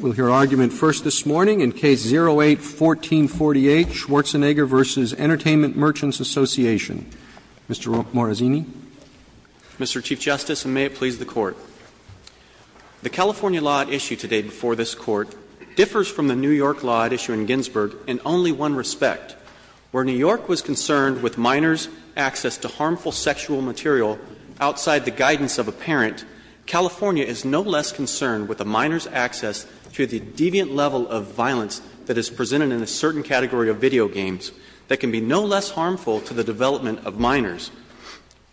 We'll hear argument first this morning in Case 08-1448, Schwarzenegger v. Entertainment Merchants Association. Mr. Morazzini. Mr. Chief Justice, and may it please the Court. The California law at issue today before this Court differs from the New York law at issue in Ginsburg in only one respect. Where New York was concerned with minors' access to harmful sexual material outside the guidance of a parent, California is no less concerned with a minor's access to the deviant level of violence that is presented in a certain category of video games that can be no less harmful to the development of minors.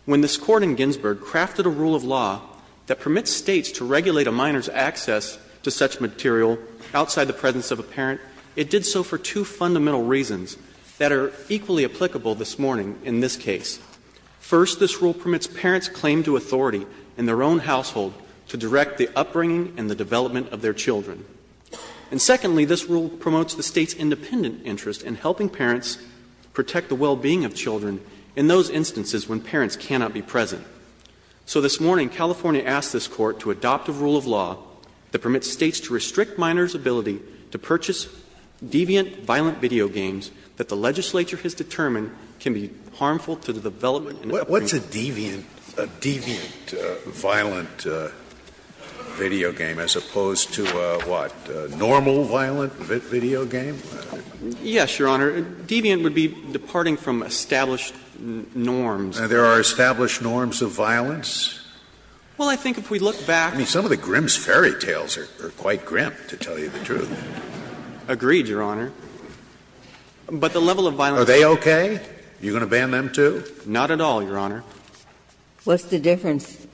When this Court in Ginsburg crafted a rule of law that permits States to regulate a minor's access to such material outside the presence of a parent, it did so for two fundamental reasons that are equally applicable this morning in this case. First, this rule permits parents' claim to authority in their own household to direct the upbringing and the development of their children. And secondly, this rule promotes the State's independent interest in helping parents protect the well-being of children in those instances when parents cannot be present. So this morning, California asked this Court to adopt a rule of law that permits States to restrict minors' ability to purchase deviant violent video games that the legislature has determined can be harmful to the development and upbringing of minors. What's a deviant violent video game as opposed to a, what, a normal violent video game? Yes, Your Honor. A deviant would be departing from established norms. Are there established norms of violence? Well, I think if we look back — I mean, some of the Grimm's fairy tales are quite grim, to tell you the truth. Agreed, Your Honor. But the level of violence— Are they okay? Are you going to ban them, too? Not at all, Your Honor. What's the difference?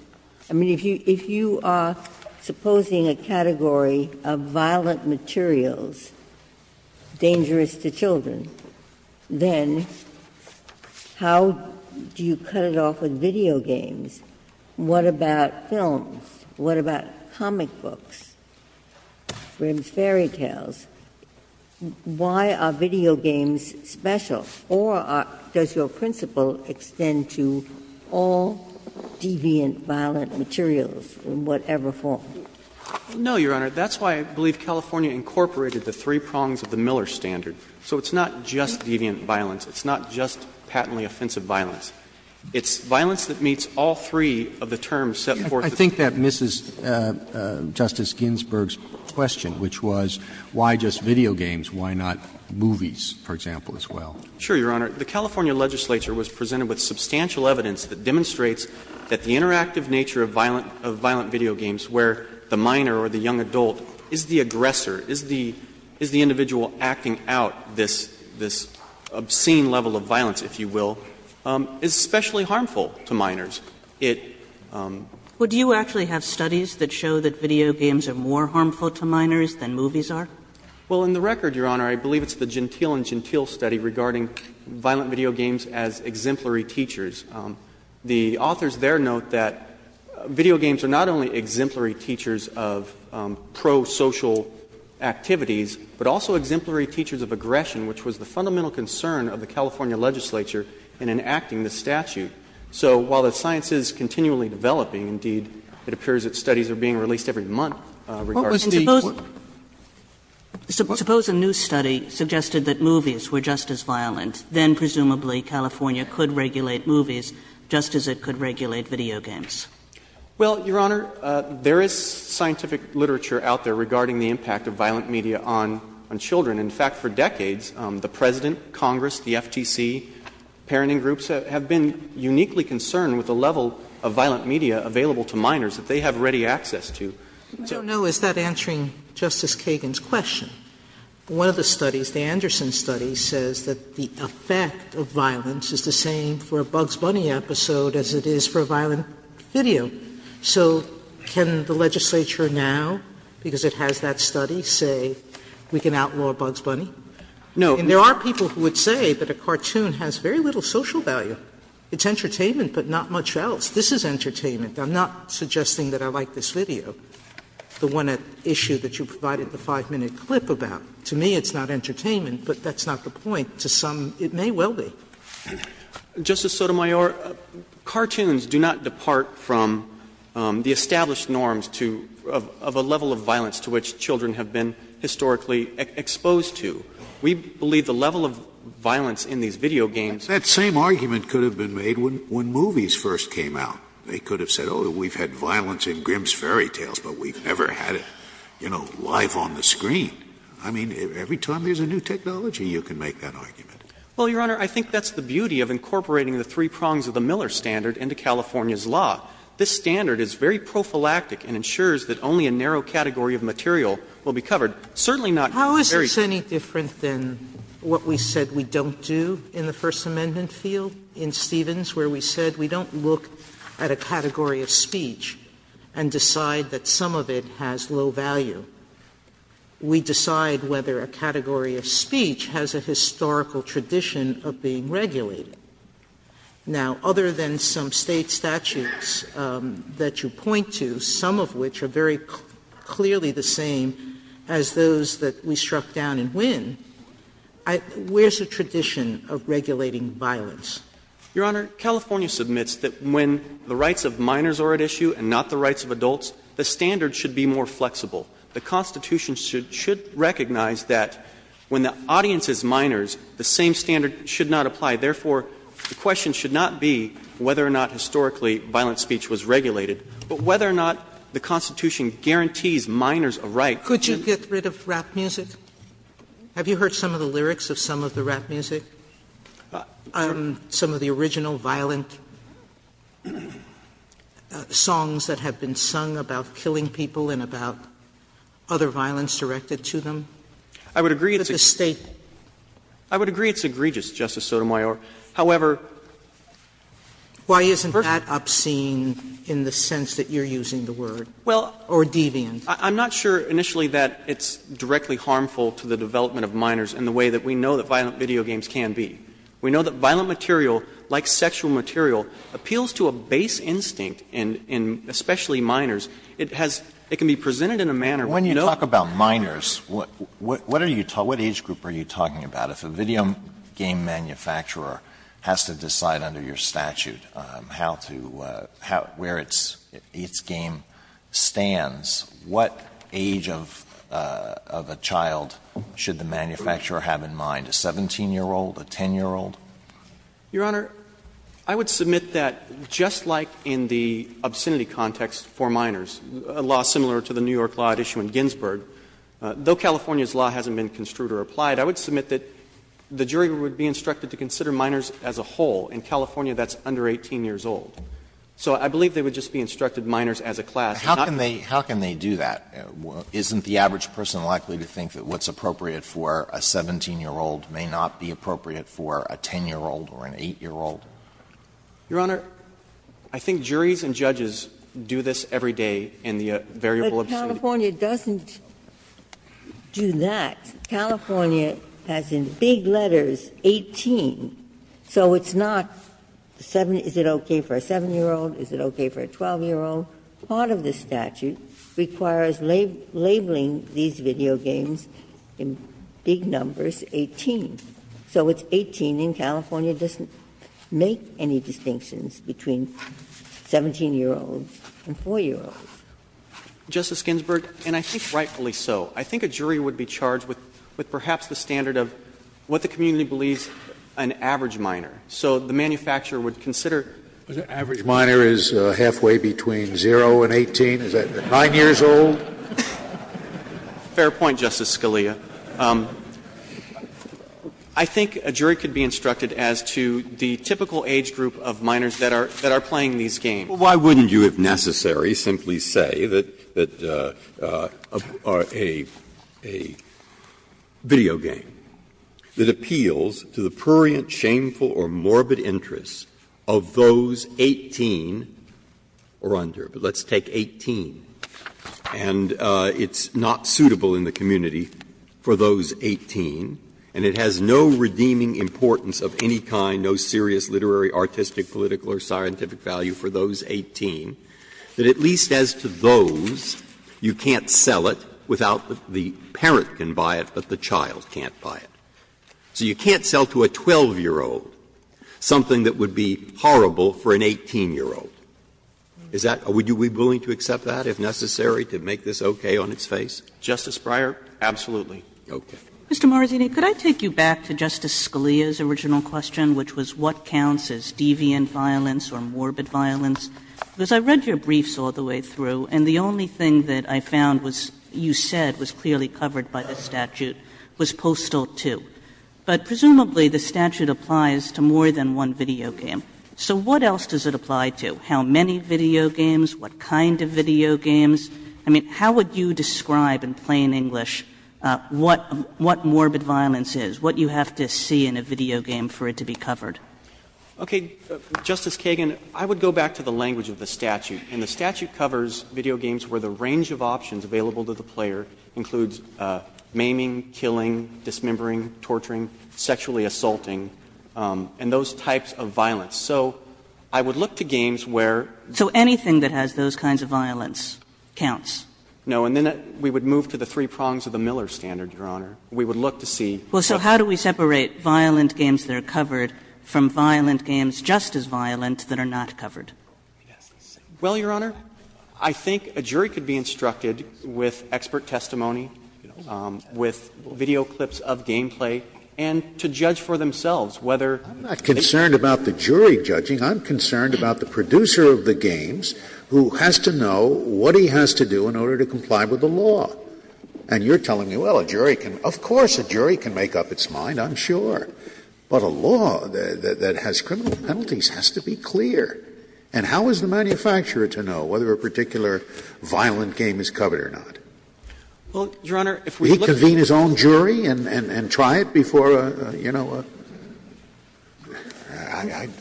I mean, if you are supposing a category of violent materials dangerous to children, then how do you cut it off with video games? What about films? What about comic books, Grimm's fairy tales? Why are video games special? Or does your principle extend to all deviant violent materials in whatever form? No, Your Honor. That's why I believe California incorporated the three prongs of the Miller standard. So it's not just deviant violence. It's not just patently offensive violence. It's violence that meets all three of the terms set forth in the— I think that misses Justice Ginsburg's question, which was, why just video games? Why not movies, for example, as well? Sure, Your Honor. The California legislature was presented with substantial evidence that demonstrates that the interactive nature of violent video games, where the minor or the young adult is the aggressor, is the individual acting out this obscene level of violence, if you will, is especially harmful to minors. It— Would you actually have studies that show that video games are more harmful to minors than movies are? Well, in the record, Your Honor, I believe it's the Gentile and Gentile study regarding violent video games as exemplary teachers. The authors there note that video games are not only exemplary teachers of pro-social activities, but also exemplary teachers of aggression, which was the fundamental concern of the California legislature in enacting this statute. So while the science is continually developing, indeed, it appears that studies are being released every month regarding the— And suppose— Suppose a new study suggested that movies were just as violent. Then presumably California could regulate movies just as it could regulate video games. Well, Your Honor, there is scientific literature out there regarding the impact of violent media on children. In fact, for decades, the President, Congress, the FTC, parenting groups have been uniquely concerned with the level of violent media available to minors that they have ready access to. I don't know, is that answering Justice Kagan's question? One of the studies, the Anderson study, says that the effect of violence is the same for a Bugs Bunny episode as it is for a violent video. So can the legislature now, because it has that study, say we can outlaw Bugs Bunny? No. And there are people who would say that a cartoon has very little social value. It's entertainment, but not much else. This is entertainment. I'm not suggesting that I like this video, the one at issue that you provided the 5-minute clip about. To me, it's not entertainment, but that's not the point. To some, it may well be. Justice Sotomayor, cartoons do not depart from the established norms to of a level of violence to which children have been historically exposed to. We believe the level of violence in these video games. Scalia, that same argument could have been made when movies first came out. They could have said, oh, we've had violence in Grimm's Fairy Tales, but we've never had it, you know, live on the screen. I mean, every time there's a new technology, you can make that argument. Well, Your Honor, I think that's the beauty of incorporating the three prongs of the Miller standard into California's law. This standard is very prophylactic and ensures that only a narrow category of material will be covered. Certainly not in a very. Now, is this any different than what we said we don't do in the First Amendment field in Stevens, where we said we don't look at a category of speech and decide that some of it has low value? We decide whether a category of speech has a historical tradition of being regulated. Now, other than some State statutes that you point to, some of which are very clearly the same as those that we struck down in Wynn, where's the tradition of regulating violence? Your Honor, California submits that when the rights of minors are at issue and not the rights of adults, the standard should be more flexible. The Constitution should recognize that when the audience is minors, the same standard should not apply. Therefore, the question should not be whether or not historically violent speech was regulated, but whether or not the Constitution guarantees minors a right to do so. Sotomayor, could you get rid of rap music? Have you heard some of the lyrics of some of the rap music? Some of the original violent songs that have been sung about killing people and about other violence directed to them? I would agree it's agreed to, Justice Sotomayor. However, why isn't that obscene in the sense that you're using the word, or deviant? I'm not sure initially that it's directly harmful to the development of minors in the way that we know that violent video games can be. We know that violent material, like sexual material, appeals to a base instinct in especially minors. It has to be presented in a manner where no one is talking about it. Alito, what age group are you talking about? If a video game manufacturer has to decide under your statute how to, where its game stands, what age of a child should the manufacturer have in mind, a 17-year-old, a 10-year-old? Your Honor, I would submit that just like in the obscenity context for minors, a law similar to the New York law at issue in Ginsburg, though California's law hasn't been construed or applied, I would submit that the jury would be instructed to consider minors as a whole. In California, that's under 18 years old. So I believe they would just be instructed minors as a class. Alito, how can they do that? Isn't the average person likely to think that what's appropriate for a 17-year-old may not be appropriate for a 10-year-old or an 8-year-old? Your Honor, I think juries and judges do this every day in the variable obscenity context. But California doesn't do that. California has in big letters 18, so it's not 7, is it okay for a 7-year-old? Is it okay for a 12-year-old? Part of the statute requires labeling these video games in big numbers, 18. So it's 18, and California doesn't make any distinctions between 17-year-olds and 4-year-olds. Justice Ginsburg, and I think rightfully so, I think a jury would be charged with perhaps the standard of what the community believes an average minor. So the manufacturer would consider. Scalia, is it 9 years old? Fair point, Justice Scalia. I think a jury could be instructed as to the typical age group of minors that are playing these games. Breyer, why wouldn't you, if necessary, simply say that a video game that appeals to the prurient, shameful, or morbid interests of those 18 or under, but let's take 18, and it's not suitable in the community for those 18, and it has no redeeming importance of any kind, no serious literary, artistic, political, or scientific value for those 18, that at least as to those, you can't sell it without the parent can buy it, but the child can't buy it. So you can't sell to a 12-year-old something that would be horrible for an 18-year-old. Is that what you would be willing to accept that, if necessary, to make this okay Justice Breyer, absolutely. Okay. Kagan. Mr. Marazzini, could I take you back to Justice Scalia's original question, which was what counts as deviant violence or morbid violence? Because I read your briefs all the way through, and the only thing that I found was, you said, was clearly covered by the statute, was Postal 2. But presumably the statute applies to more than one video game. So what else does it apply to? How many video games? What kind of video games? I mean, how would you describe in plain English what morbid violence is, what you have to see in a video game for it to be covered? Okay. Justice Kagan, I would go back to the language of the statute. And the statute covers video games where the range of options available to the player includes maiming, killing, dismembering, torturing, sexually assaulting, and those types of violence. So I would look to games where So anything that has those kinds of violence counts. No. And then we would move to the three prongs of the Miller standard, Your Honor. We would look to see. Well, so how do we separate violent games that are covered from violent games just as violent that are not covered? Well, Your Honor, I think a jury could be instructed with expert testimony, with video clips of gameplay, and to judge for themselves whether they're I'm not concerned about the jury judging. I'm concerned about the producer of the games who has to know what he has to do in order to comply with the law. And you're telling me, well, a jury can, of course a jury can make up its mind, I'm sure. But a law that has criminal penalties has to be clear. And how is the manufacturer to know whether a particular violent game is covered or not? Well, Your Honor, if we look at Would he convene his own jury and try it before, you know,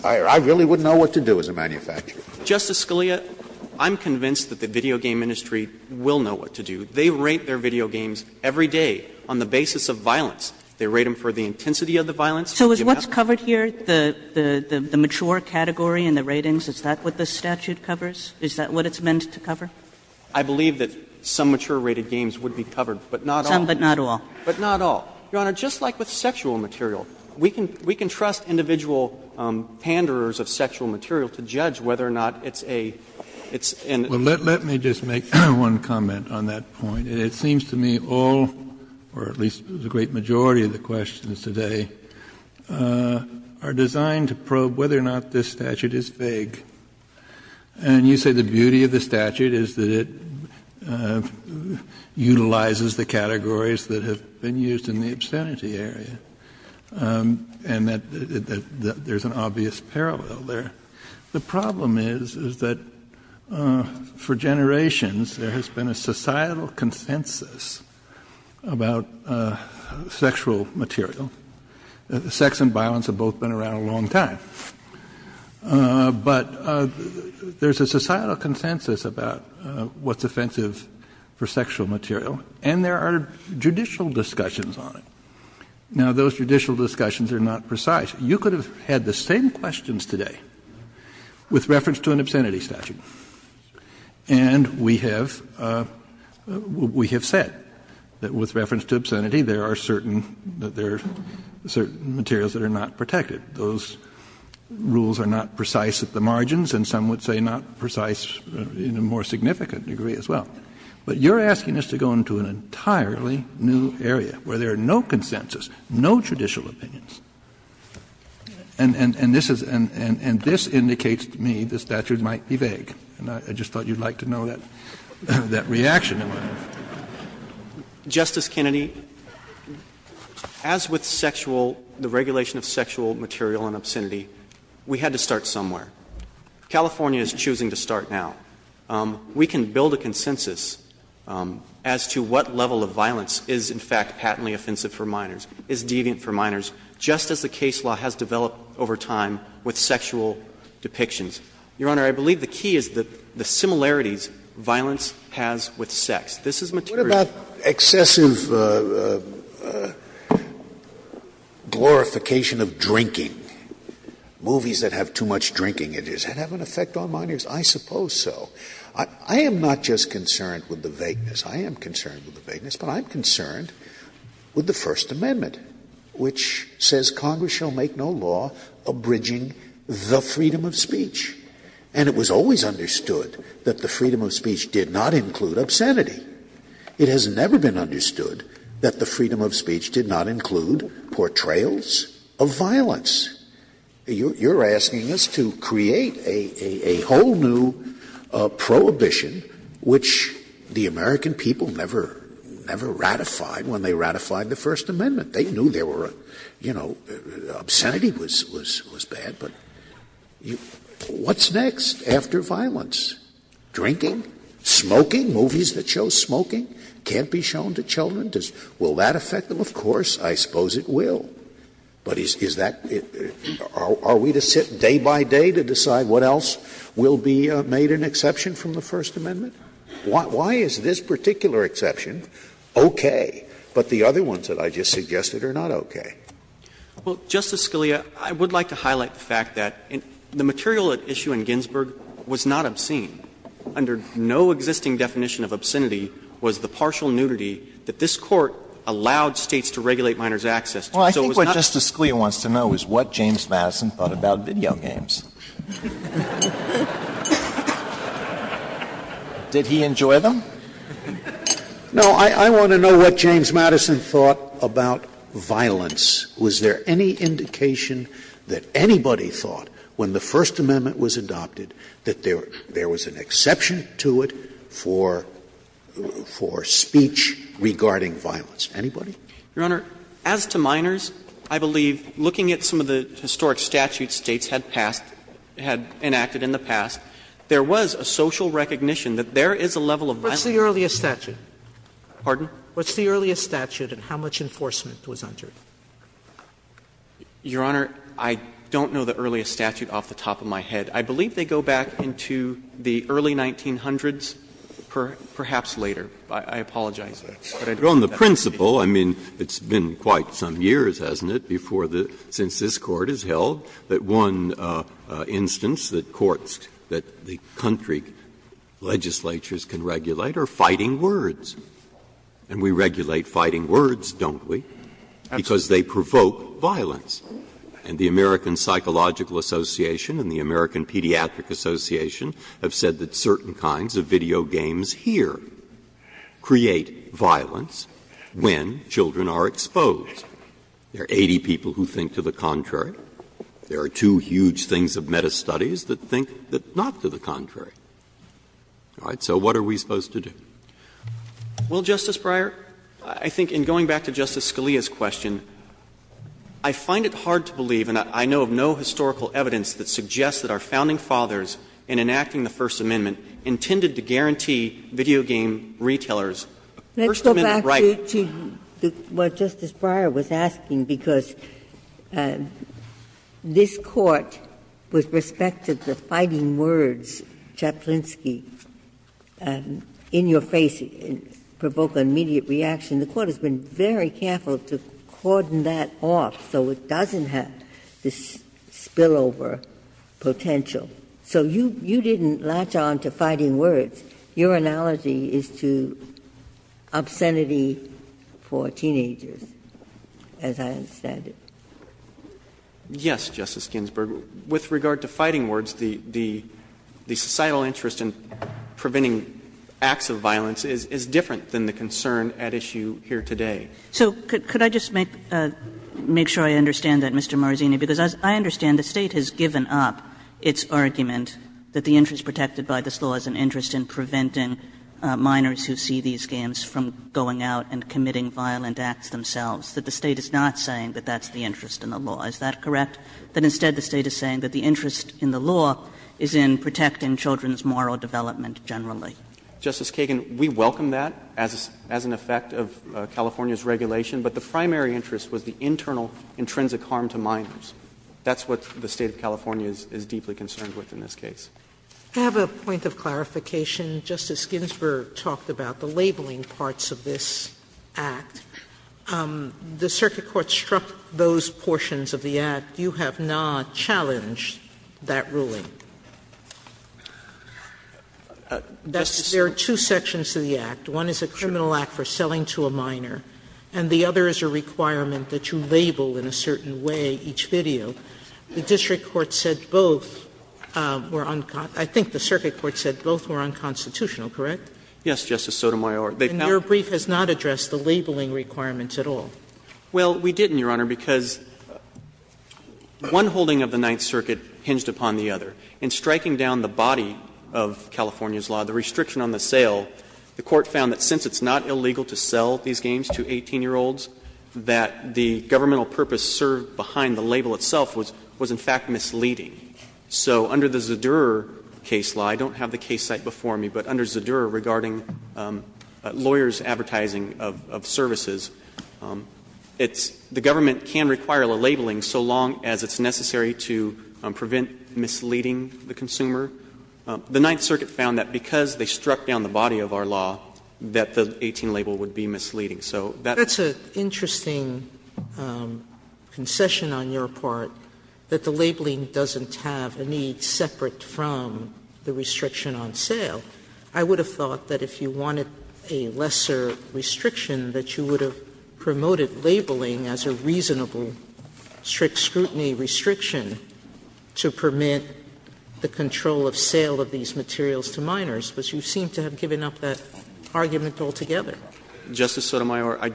I really wouldn't know what to do as a manufacturer. Justice Scalia, I'm convinced that the video game industry will know what to do. They rate their video games every day on the basis of violence. They rate them for the intensity of the violence. So is what's covered here, the mature category and the ratings, is that what the statute covers? Is that what it's meant to cover? I believe that some mature-rated games would be covered, but not all. Some, but not all. But not all. Your Honor, just like with sexual material, we can trust individual panderers of sexual material to judge whether or not it's a, it's an Well, let me just make one comment on that point. It seems to me all, or at least the great majority of the questions today, are designed to probe whether or not this statute is vague. And you say the beauty of the statute is that it utilizes the categories that have been used in the obscenity area, and that there's an obvious parallel. The problem is, is that for generations there has been a societal consensus about sexual material. Sex and violence have both been around a long time. But there's a societal consensus about what's offensive for sexual material. And there are judicial discussions on it. Now, those judicial discussions are not precise. You could have had the same questions today with reference to an obscenity statute. And we have said that with reference to obscenity, there are certain that there are certain materials that are not protected. Those rules are not precise at the margins, and some would say not precise in a more significant degree as well. But you're asking us to go into an entirely new area, where there are no consensus, no judicial opinions. And this is and this indicates to me the statute might be vague. And I just thought you'd like to know that reaction in my mind. Justice Kennedy, as with sexual, the regulation of sexual material and obscenity, we had to start somewhere. California is choosing to start now. We can build a consensus as to what level of violence is in fact patently offensive for minors. What level of violence is deviant for minors, just as the case law has developed over time with sexual depictions? Your Honor, I believe the key is the similarities violence has with sex. This is material. Scalia. What about excessive glorification of drinking, movies that have too much drinking in it? Does that have an effect on minors? I suppose so. I am not just concerned with the vagueness. I am concerned with the vagueness, but I'm concerned with the First Amendment, which says Congress shall make no law abridging the freedom of speech. And it was always understood that the freedom of speech did not include obscenity. It has never been understood that the freedom of speech did not include portrayals of violence. You're asking us to create a whole new prohibition, which the American people never ratified when they ratified the First Amendment. They knew there were, you know, obscenity was bad, but what's next after violence? Drinking, smoking, movies that show smoking can't be shown to children? Will that affect them? Of course, I suppose it will. But is that — are we to sit day by day to decide what else will be made an exception from the First Amendment? Why is this particular exception okay, but the other ones that I just suggested are not okay? Well, Justice Scalia, I would like to highlight the fact that the material at issue in Ginsburg was not obscene. Under no existing definition of obscenity was the partial nudity that this Court allowed States to regulate minors' access to. So it was not — Scalia wants to know is what James Madison thought about video games. Did he enjoy them? No. I want to know what James Madison thought about violence. Was there any indication that anybody thought when the First Amendment was adopted that there was an exception to it for speech regarding violence? Anybody? Your Honor, as to minors, I believe looking at some of the historic statutes States had passed, had enacted in the past, there was a social recognition that there is a level of violence. What's the earliest statute? Pardon? What's the earliest statute and how much enforcement was under it? Your Honor, I don't know the earliest statute off the top of my head. I believe they go back into the early 1900s, perhaps later. I apologize. Breyer. On the principle, I mean, it's been quite some years, hasn't it, before the — since this Court has held that one instance that courts, that the country legislatures can regulate, are fighting words. And we regulate fighting words, don't we, because they provoke violence. And the American Psychological Association and the American Pediatric Association have said that certain kinds of video games here create violence when children are exposed. There are 80 people who think to the contrary. There are two huge things of meta-studies that think not to the contrary. All right. So what are we supposed to do? Well, Justice Breyer, I think in going back to Justice Scalia's question, I find it hard to believe, and I know of no historical evidence that suggests that our founding fathers, in enacting the First Amendment, intended to guarantee video game retailers a First Amendment right. Let's go back to what Justice Breyer was asking, because this Court, with respect to the fighting words, Chaplinsky, in your face, provoke an immediate reaction. The Court has been very careful to cordon that off so it doesn't have this spillover potential. So you didn't latch on to fighting words. Your analogy is to obscenity for teenagers, as I understand it. Yes, Justice Ginsburg. With regard to fighting words, the societal interest in preventing acts of violence is different than the concern at issue here today. So could I just make sure I understand that, Mr. Marzini, because I understand the State has given up its argument that the interest protected by this law is an interest in preventing minors who see these games from going out and committing violent acts themselves, that the State is not saying that that's the interest in the law, is that correct? That instead the State is saying that the interest in the law is in protecting children's moral development generally. Justice Kagan, we welcome that as an effect of California's regulation, but the primary interest was the internal intrinsic harm to minors. That's what the State of California is deeply concerned with in this case. Sotomayor, I have a point of clarification. Justice Ginsburg talked about the labeling parts of this Act. The circuit court struck those portions of the Act. You have not challenged that ruling. There are two sections to the Act. One is a criminal act for selling to a minor. And the other is a requirement that you label in a certain way each video. The district court said both were unconstitutional. I think the circuit court said both were unconstitutional, correct? Yes, Justice Sotomayor. And your brief has not addressed the labeling requirements at all. Well, we didn't, Your Honor, because one holding of the Ninth Circuit hinged upon the other. In striking down the body of California's law, the restriction on the sale, the court found that since it's not illegal to sell these games to 18-year-olds, that the governmental purpose served behind the label itself was in fact misleading. So under the Zadur case law, I don't have the case site before me, but under Zadur regarding lawyers' advertising of services, it's the government can require the labeling so long as it's necessary to prevent misleading the consumer. The Ninth Circuit found that because they struck down the body of our law, that the 18 label would be misleading. So that's a interesting concession on your part, that the labeling doesn't have a need separate from the restriction on sale. I would have thought that if you wanted a lesser restriction, that you would have promoted labeling as a reasonable scrutiny restriction to permit the control of sale of these materials to minors, but you seem to have given up that argument altogether. Justice Sotomayor, I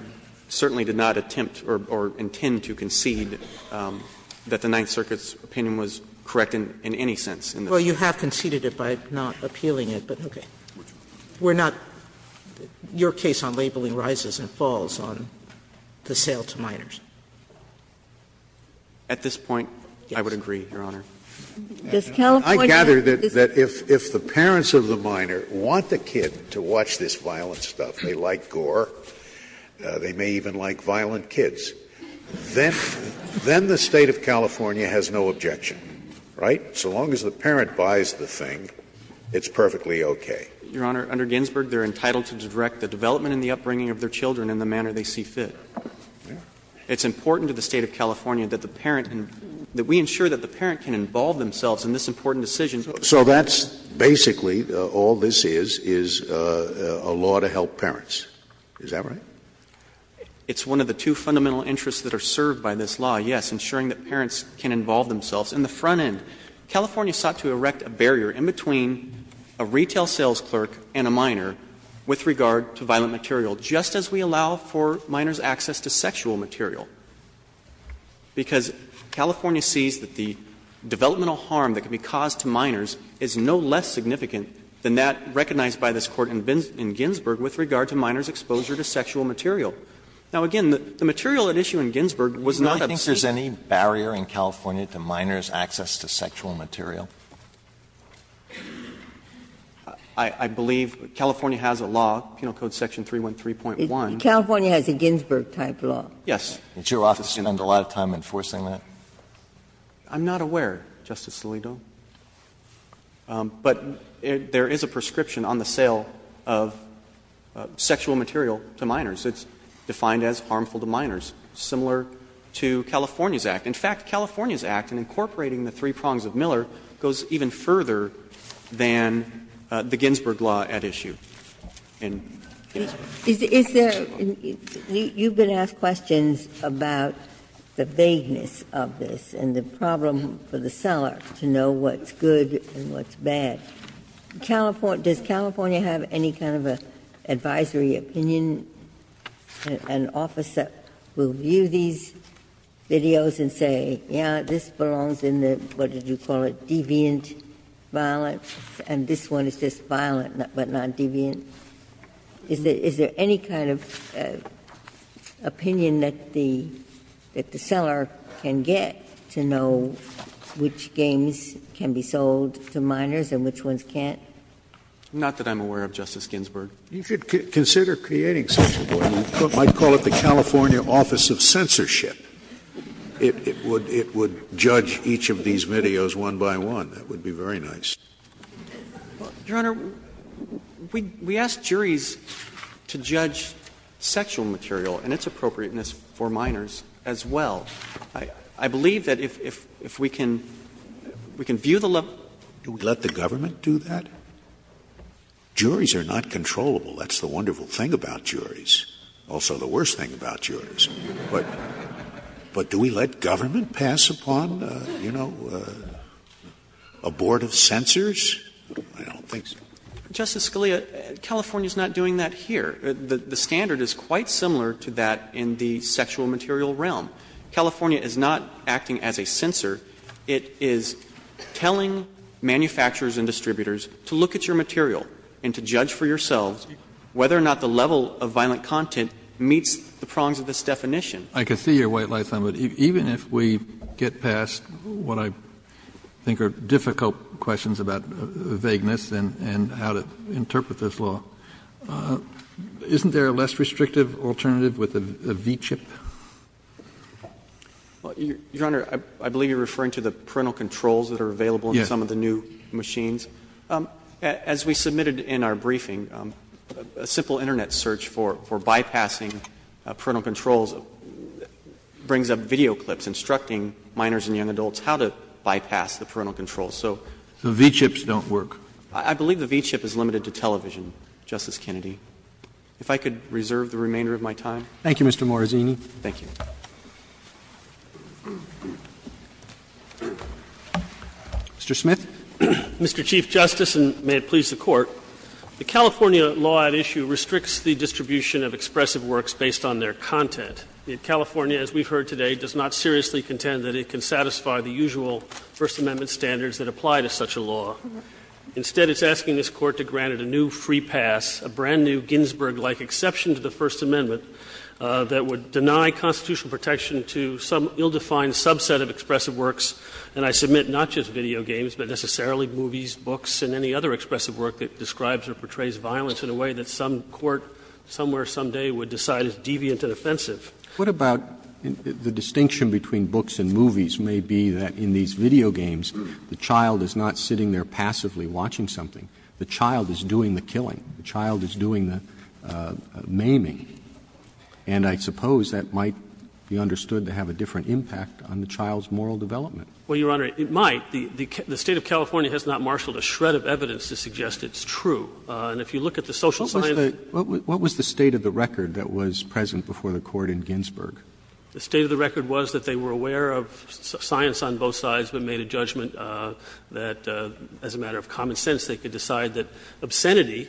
certainly did not attempt or intend to concede that the Ninth Circuit's opinion was correct in any sense. Well, you have conceded it by not appealing it, but okay. We're not your case on labeling rises and falls on the sale to minors. At this point, I would agree, Your Honor. I gather that if the parents of the minor want the kid to watch this violent stuff, they like gore, they may even like violent kids, then the State of California has no objection, right? So long as the parent buys the thing, it's perfectly okay. Your Honor, under Ginsburg, they're entitled to direct the development and the upbringing of their children in the manner they see fit. It's important to the State of California that the parent can be ensured that the children can involve themselves in this important decision. So that's basically, all this is, is a law to help parents, is that right? It's one of the two fundamental interests that are served by this law, yes, ensuring that parents can involve themselves. And the front end, California sought to erect a barrier in between a retail sales clerk and a minor with regard to violent material, just as we allow for minors access to sexual material. Because California sees that the developmental harm that can be caused to minors is no less significant than that recognized by this Court in Ginsburg with regard to minors' exposure to sexual material. Now, again, the material at issue in Ginsburg was not a piece of the same. Alitoso, do you think there's any barrier in California to minors' access to sexual material? I believe California has a law, Penal Code Section 313.1. Ginsburg, California has a Ginsburg-type law. Yes. Did your office spend a lot of time enforcing that? I'm not aware, Justice Alito. But there is a prescription on the sale of sexual material to minors. It's defined as harmful to minors, similar to California's Act. In fact, California's Act, in incorporating the three prongs of Miller, goes even further than the Ginsburg law at issue in Ginsburg. Is there — you've been asked questions about the vagueness of this and the problem for the seller to know what's good and what's bad. Does California have any kind of an advisory opinion, an office that will view these videos and say, yeah, this belongs in the, what did you call it, deviant violence, and is there any kind of opinion that the seller can get to know which games can be sold to minors and which ones can't? Not that I'm aware of, Justice Ginsburg. You should consider creating such a board. You might call it the California Office of Censorship. It would judge each of these videos one by one. That would be very nice. Well, Your Honor, we ask juries to judge sexual material and its appropriateness for minors as well. I believe that if we can view the level. Do we let the government do that? Juries are not controllable. That's the wonderful thing about juries, also the worst thing about juries. But do we let government pass upon, you know, a board of censors? I don't think so. Justice Scalia, California is not doing that here. The standard is quite similar to that in the sexual material realm. California is not acting as a censor. It is telling manufacturers and distributors to look at your material and to judge for yourselves whether or not the level of violent content meets the prongs of this definition. I can see your white light on that. Even if we get past what I think are difficult questions about vagueness and how to interpret this law, isn't there a less restrictive alternative with a V-chip? Your Honor, I believe you are referring to the parental controls that are available in some of the new machines. As we submitted in our briefing, a simple Internet search for bypassing parental controls brings up video clips instructing minors and young adults how to bypass the parental controls. So V-chips don't work. I believe the V-chip is limited to television, Justice Kennedy. If I could reserve the remainder of my time. Thank you, Mr. Morazzini. Thank you. Mr. Smith. Mr. Chief Justice, and may it please the Court, the California law at issue restricts the distribution of expressive works based on their content. California, as we've heard today, does not seriously contend that it can satisfy the usual First Amendment standards that apply to such a law. Instead, it's asking this Court to grant it a new free pass, a brand-new Ginsburg-like exception to the First Amendment that would deny constitutional protection to some ill-defined subset of expressive works. And I submit not just video games, but necessarily movies, books, and any other expressive work that describes or portrays violence in a way that some court somewhere someday would decide is deviant and offensive. What about the distinction between books and movies may be that in these video games, the child is not sitting there passively watching something. The child is doing the killing. The child is doing the maiming. And I suppose that might be understood to have a different impact on the child's moral development. Well, Your Honor, it might. The State of California has not marshaled a shred of evidence to suggest it's true. And if you look at the social science. What was the state of the record that was present before the Court in Ginsburg? The state of the record was that they were aware of science on both sides, but made a judgment that as a matter of common sense, they could decide that obscenity,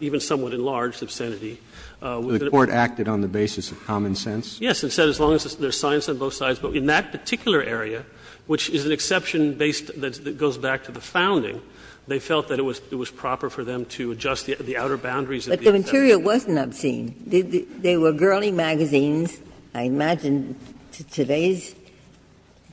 even somewhat enlarged obscenity. The Court acted on the basis of common sense? Yes, and said as long as there's science on both sides. But in that particular area, which is an exception based that goes back to the founding, they felt that it was proper for them to adjust the outer boundaries of the obscenity. But the material wasn't obscene. They were girly magazines. I imagine to today's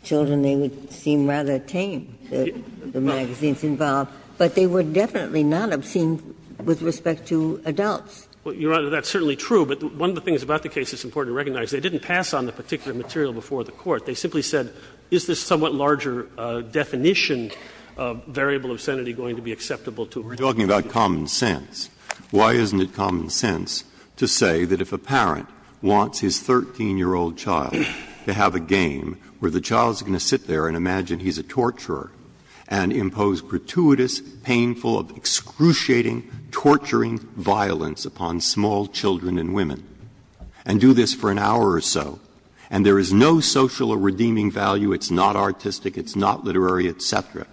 children they would seem rather tame, the magazines involved. But they were definitely not obscene with respect to adults. Well, Your Honor, that's certainly true. But one of the things about the case that's important to recognize, they didn't pass on the particular material before the Court. They simply said, is this somewhat larger definition of variable obscenity going to be acceptable to her? We're talking about common sense. Why isn't it common sense to say that if a parent wants his 13-year-old child to have a game where the child's going to sit there and imagine he's a torturer and impose gratuitous, painful, excruciating, torturing violence upon small children and women, and do this for an hour or so, and there is no social or redeeming value, it's not artistic, it's not literary, et cetera,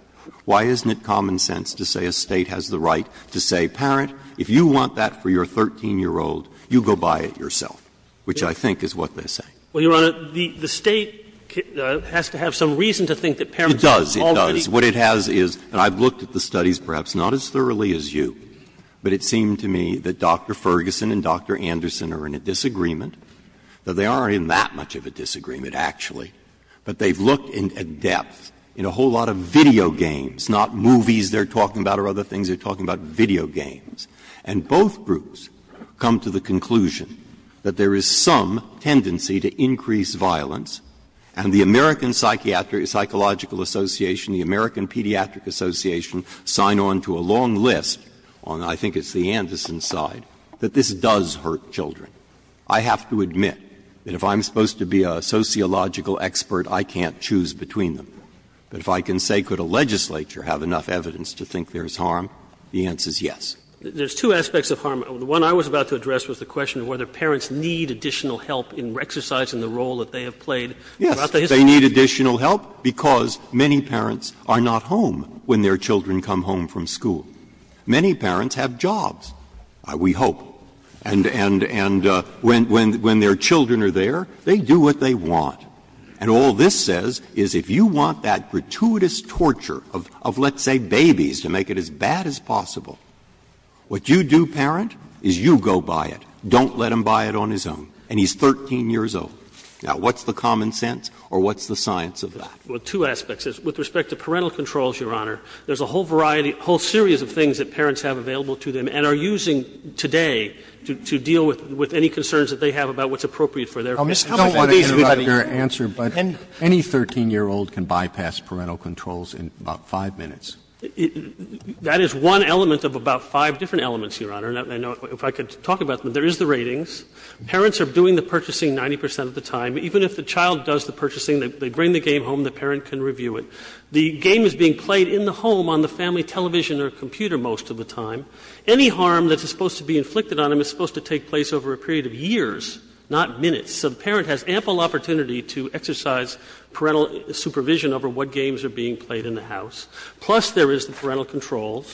why isn't it common sense to say a State has the right to say, parent, if you want that for your 13-year-old, you go buy it yourself, which I think is what they're saying. Well, Your Honor, the State has to have some reason to think that parents are already It does. It does. What it has is, and I've looked at the studies perhaps not as thoroughly as you, but it seemed to me that Dr. Ferguson and Dr. Anderson are in a disagreement, that they aren't in that much of a disagreement, actually, but they've looked at depth in a whole lot of video games, not movies they're talking about or other things they're talking about, video games. And both groups come to the conclusion that there is some tendency to increase violence, and the American Psychiatric Psychological Association, the American I think it's the Anderson side, that this does hurt children. I have to admit that if I'm supposed to be a sociological expert, I can't choose between them. But if I can say, could a legislature have enough evidence to think there's harm, the answer is yes. There's two aspects of harm. The one I was about to address was the question of whether parents need additional help in exercising the role that they have played throughout the history of the country. Yes. They need additional help because many parents are not home when their children come home from school. Many parents have jobs, we hope, and when their children are there, they do what they want. And all this says is if you want that gratuitous torture of, let's say, babies to make it as bad as possible, what you do, parent, is you go buy it. Don't let him buy it on his own. And he's 13 years old. Now, what's the common sense or what's the science of that? Well, two aspects. With respect to parental controls, Your Honor, there's a whole variety, whole series of things that parents have available to them and are using today to deal with any concerns that they have about what's appropriate for their families. I don't want to interrupt your answer, but any 13-year-old can bypass parental controls in about 5 minutes. That is one element of about five different elements, Your Honor. And if I could talk about them, there is the ratings. Parents are doing the purchasing 90 percent of the time. Even if the child does the purchasing, they bring the game home, the parent can review it. The game is being played in the home on the family television or computer most of the time. Any harm that's supposed to be inflicted on them is supposed to take place over a period of years, not minutes. So the parent has ample opportunity to exercise parental supervision over what games are being played in the house. Plus, there is the parental controls,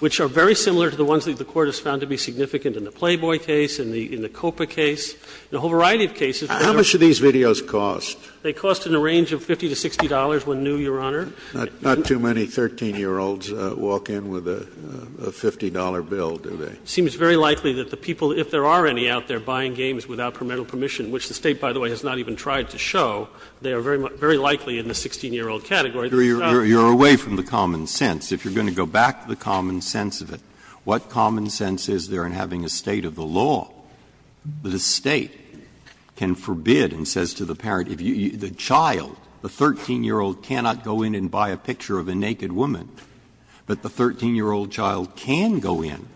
which are very similar to the ones that the Court has found to be significant in the Playboy case, in the COPA case, in a whole variety of cases. How much do these videos cost? They cost in the range of $50 to $60 when new, Your Honor. Not too many 13-year-olds walk in with a $50 bill, do they? It seems very likely that the people, if there are any out there buying games without parental permission, which the State, by the way, has not even tried to show, they are very likely in the 16-year-old category. You're away from the common sense. If you're going to go back to the common sense of it, what common sense is there in having a state of the law that a State can forbid and says to the parent, if you go in, the child, the 13-year-old cannot go in and buy a picture of a naked woman, but the 13-year-old child can go in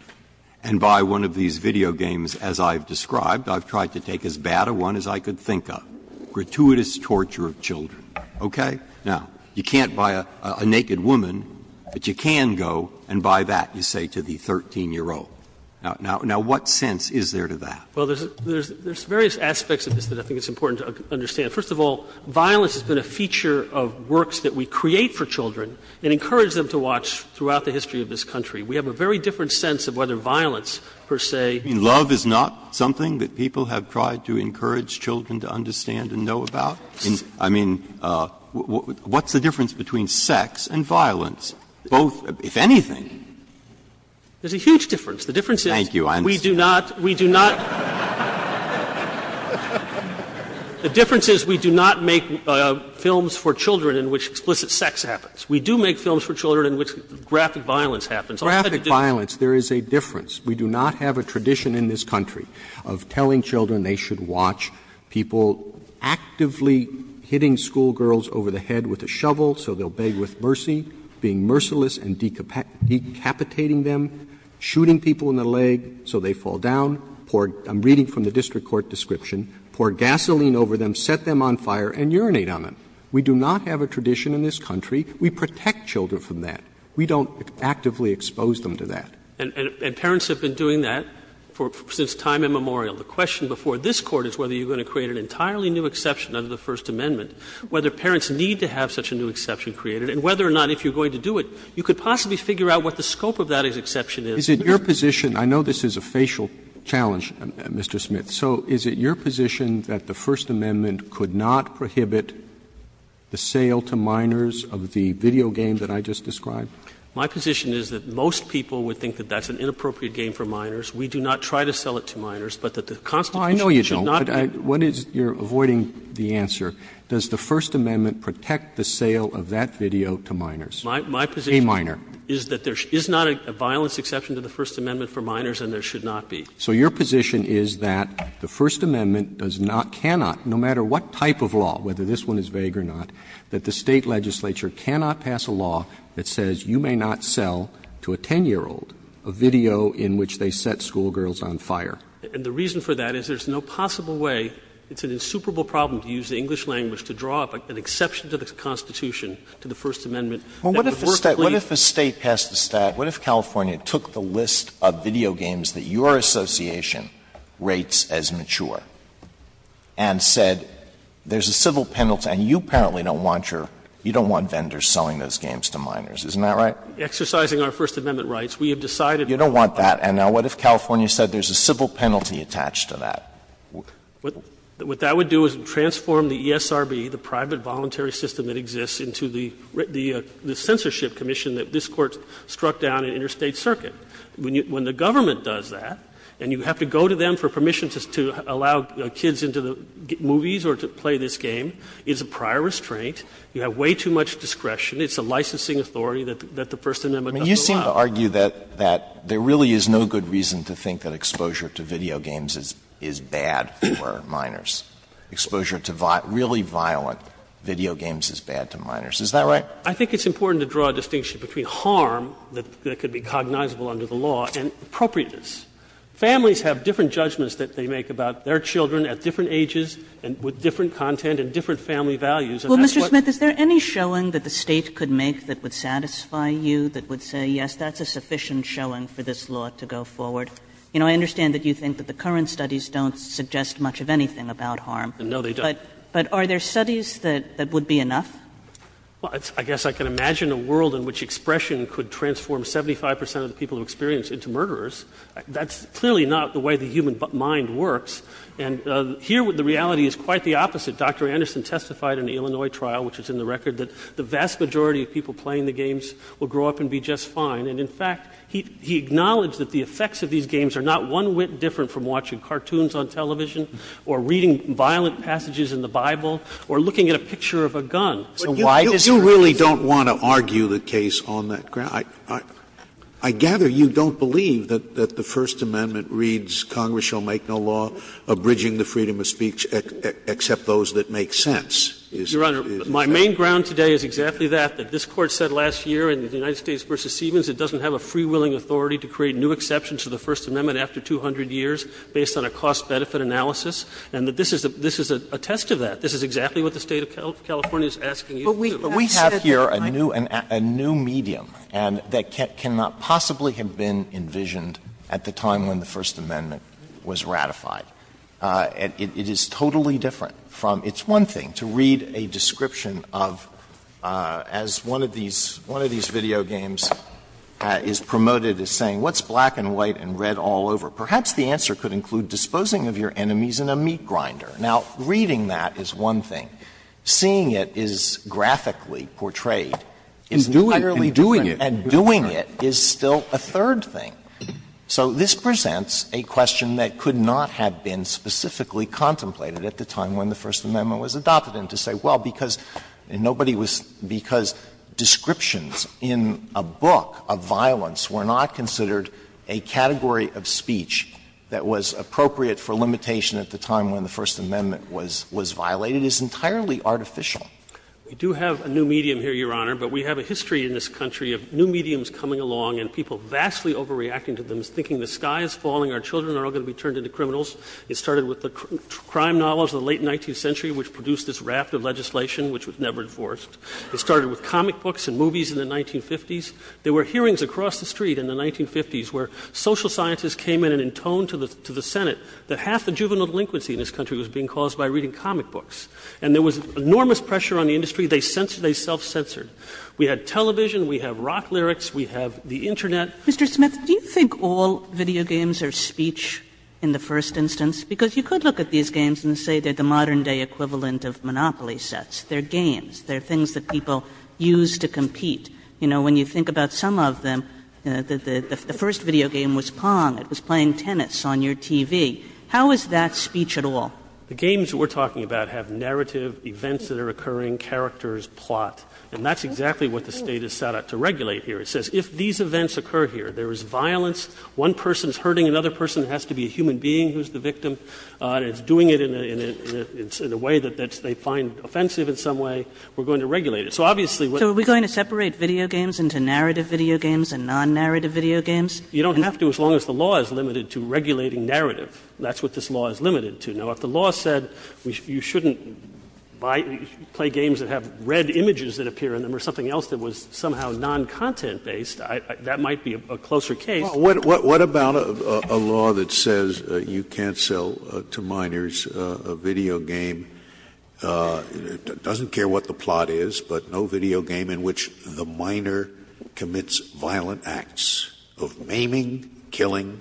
and buy one of these video games, as I've described. I've tried to take as bad a one as I could think of. Gratuitous torture of children. Okay? Now, you can't buy a naked woman, but you can go and buy that, you say to the 13-year-old. Now, what sense is there to that? Well, there's various aspects of this that I think it's important to understand. First of all, violence has been a feature of works that we create for children and encourage them to watch throughout the history of this country. We have a very different sense of whether violence, per se. Breyer's love is not something that people have tried to encourage children to understand and know about? I mean, what's the difference between sex and violence, both, if anything? There's a huge difference. The difference is we do not. We do not. The difference is we do not make films for children in which explicit sex happens. We do make films for children in which graphic violence happens. Graphic violence, there is a difference. We do not have a tradition in this country of telling children they should watch people actively hitting schoolgirls over the head with a shovel so they'll beg with mercy, being merciless and decapitating them, shooting people in the leg so they fall down, pour — I'm reading from the district court description — pour gasoline over them, set them on fire and urinate on them. We do not have a tradition in this country. We protect children from that. We don't actively expose them to that. And parents have been doing that for — since time immemorial. The question before this Court is whether you're going to create an entirely new exception under the First Amendment, whether parents need to have such a new exception created, and whether or not if you're going to do it, you could possibly figure out what the scope of that exception is. Roberts Is it your position — I know this is a facial challenge, Mr. Smith. So is it your position that the First Amendment could not prohibit the sale to minors of the video game that I just described? Smith My position is that most people would think that that's an inappropriate game for minors. We do not try to sell it to minors, but that the Constitution should not be— Roberts Oh, I know you don't, but I — what is — you're avoiding the answer. Does the First Amendment protect the sale of that video to minors, a minor? Smith Is that there is not a violence exception to the First Amendment for minors and there should not be. Roberts So your position is that the First Amendment does not, cannot, no matter what type of law, whether this one is vague or not, that the State legislature cannot pass a law that says you may not sell to a 10-year-old a video in which they set school girls on fire? Smith And the reason for that is there's no possible way, it's an insuperable problem to use the English language to draw up an exception to the Constitution to the First Amendment. Alito What if a State passed a Stat — what if California took the list of video games that your association rates as mature and said there's a civil penalty, and you apparently don't want your — you don't want vendors selling those games to minors, isn't that right? Smith Exercising our First Amendment rights, we have decided— Alito You don't want that. And now what if California said there's a civil penalty attached to that? Smith What that would do is transform the ESRB, the private voluntary system that the censorship commission that this Court struck down in interstate circuit. When the government does that and you have to go to them for permission to allow kids into the movies or to play this game, it's a prior restraint. You have way too much discretion. It's a licensing authority that the First Amendment doesn't allow. Alito You seem to argue that there really is no good reason to think that exposure to video games is bad for minors, exposure to really violent video games is bad to minors. Is that right? Smith I think it's important to draw a distinction between harm that could be cognizable under the law and appropriateness. Families have different judgments that they make about their children at different ages and with different content and different family values. And that's what— Kagan Well, Mr. Smith, is there any showing that the State could make that would satisfy you, that would say, yes, that's a sufficient showing for this law to go forward? You know, I understand that you think that the current studies don't suggest much of anything about harm. Smith No, they don't. Kagan But are there studies that would be enough? Smith Well, I guess I can imagine a world in which expression could transform 75 percent of the people who experience it into murderers. That's clearly not the way the human mind works. And here the reality is quite the opposite. Dr. Anderson testified in the Illinois trial, which is in the record, that the vast majority of people playing the games will grow up and be just fine. And in fact, he acknowledged that the effects of these games are not one whit different from watching cartoons on television or reading violent passages in the Bible or looking at a picture of a gun. Scalia You really don't want to argue the case on that ground? I gather you don't believe that the First Amendment reads, Congress shall make no law abridging the freedom of speech except those that make sense. Is that it? Smith Your Honor, my main ground today is exactly that, that this Court said last year in the United States v. Stevens it doesn't have a free-willing authority to create new exceptions to the First Amendment after 200 years based on a cost-benefit analysis, and that this is a test of that. This is exactly what the State of California is asking you to do. Alito But we have here a new medium that cannot possibly have been envisioned at the time when the First Amendment was ratified. It is totally different from – it's one thing to read a description of, as one of these video games is promoted as saying, what's black and white and red all over? Perhaps the answer could include disposing of your enemies in a meat grinder. Now, reading that is one thing. Seeing it is graphically portrayed. It's entirely different. Scalia And doing it. Alito And doing it is still a third thing. So this presents a question that could not have been specifically contemplated at the time when the First Amendment was adopted, and to say, well, because nobody was – because descriptions in a book of violence were not considered a category of speech that was appropriate for limitation at the time when the First Amendment was violated is entirely artificial. We do have a new medium here, Your Honor, but we have a history in this country of new mediums coming along and people vastly overreacting to them, thinking the sky is falling, our children are all going to be turned into criminals. It started with the crime novels of the late 19th century, which produced this raft of legislation which was never enforced. It started with comic books and movies in the 1950s. There were hearings across the street in the 1950s where social scientists came in and intoned to the Senate that half the juvenile delinquency in this country was being caused by reading comic books. And there was enormous pressure on the industry. They censored – they self-censored. We had television. We have rock lyrics. We have the Internet. Kagan Mr. Smith, do you think all video games are speech in the first instance? Because you could look at these games and say they're the modern-day equivalent of Monopoly sets. They're games. They're things that people use to compete. You know, when you think about some of them, the first video game was Pong. It was playing tennis on your TV. How is that speech at all? The games that we're talking about have narrative events that are occurring, characters, plot. And that's exactly what the State has set out to regulate here. It says if these events occur here, there is violence, one person is hurting another person, it has to be a human being who's the victim, and it's doing it in a way that they find offensive in some way, we're going to regulate it. So obviously what's going to happen is we're going to separate video games into narrative video games and non-narrative video games. You don't have to as long as the law is limited to regulating narrative. That's what this law is limited to. Now, if the law said you shouldn't buy or play games that have red images that appear in them or something else that was somehow non-content based, that might be a closer case. Scalia. What about a law that says you can't sell to minors a video game, doesn't care what the plot is, but no video game in which the minor commits violent acts of maiming, killing,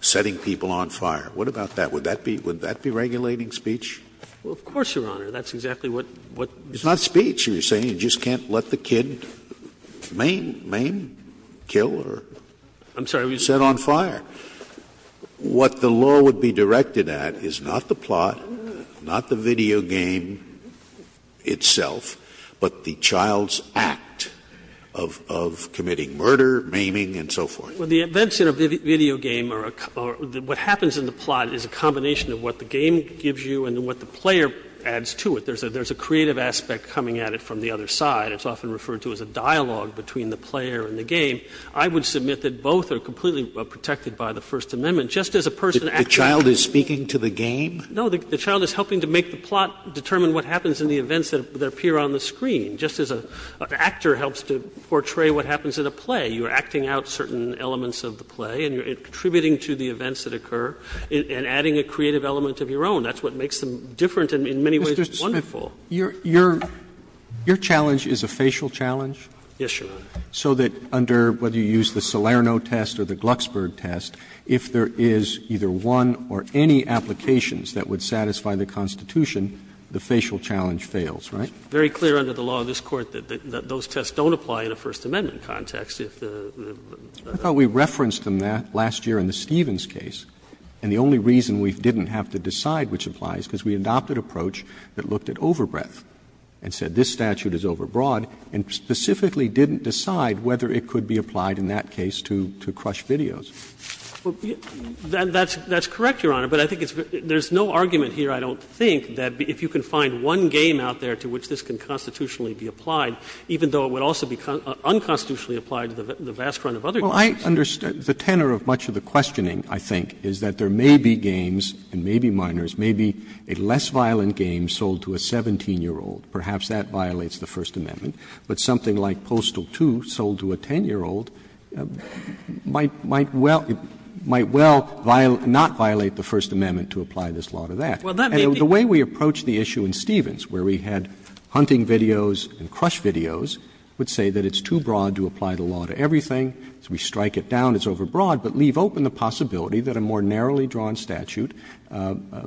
setting people on fire? What about that? Would that be regulating speech? Well, of course, Your Honor. That's exactly what the law says. It's not speech. You're saying you just can't let the kid maim, kill, or set on fire. I'm sorry. What the law would be directed at is not the plot, not the video game. Itself, but the child's act of committing murder, maiming, and so forth. Well, the events in a video game are a couple of the what happens in the plot is a combination of what the game gives you and what the player adds to it. There's a creative aspect coming at it from the other side. It's often referred to as a dialogue between the player and the game. I would submit that both are completely protected by the First Amendment, just as a person acting. If the child is speaking to the game? No. The child is helping to make the plot determine what happens in the events that appear on the screen, just as an actor helps to portray what happens in a play. You are acting out certain elements of the play, and you're contributing to the events that occur, and adding a creative element of your own. That's what makes them different and in many ways wonderful. Roberts, your challenge is a facial challenge? Yes, Your Honor. So that under whether you use the Salerno test or the Glucksberg test, if there is either one or any applications that would satisfy the Constitution, the facial challenge fails, right? It's very clear under the law in this Court that those tests don't apply in a First Amendment context. I thought we referenced them last year in the Stevens case, and the only reason we didn't have to decide which applies is because we adopted an approach that looked at overbreadth and said this statute is overbroad, and specifically didn't decide whether it could be applied in that case to crush videos. That's correct, Your Honor, but I think there's no argument here, I don't think, that if you can find one game out there to which this can constitutionally be applied, even though it would also be unconstitutionally applied to the vast run of other games. Well, I understand the tenor of much of the questioning, I think, is that there may be games, and may be minors, may be a less violent game sold to a 17-year-old. Perhaps that violates the First Amendment, but something like Postal 2 sold to a 10-year-old might well not violate the First Amendment to apply this law to that. And the way we approached the issue in Stevens, where we had hunting videos and crush videos, would say that it's too broad to apply the law to everything, so we strike it down, it's overbroad, but leave open the possibility that a more narrowly drawn statute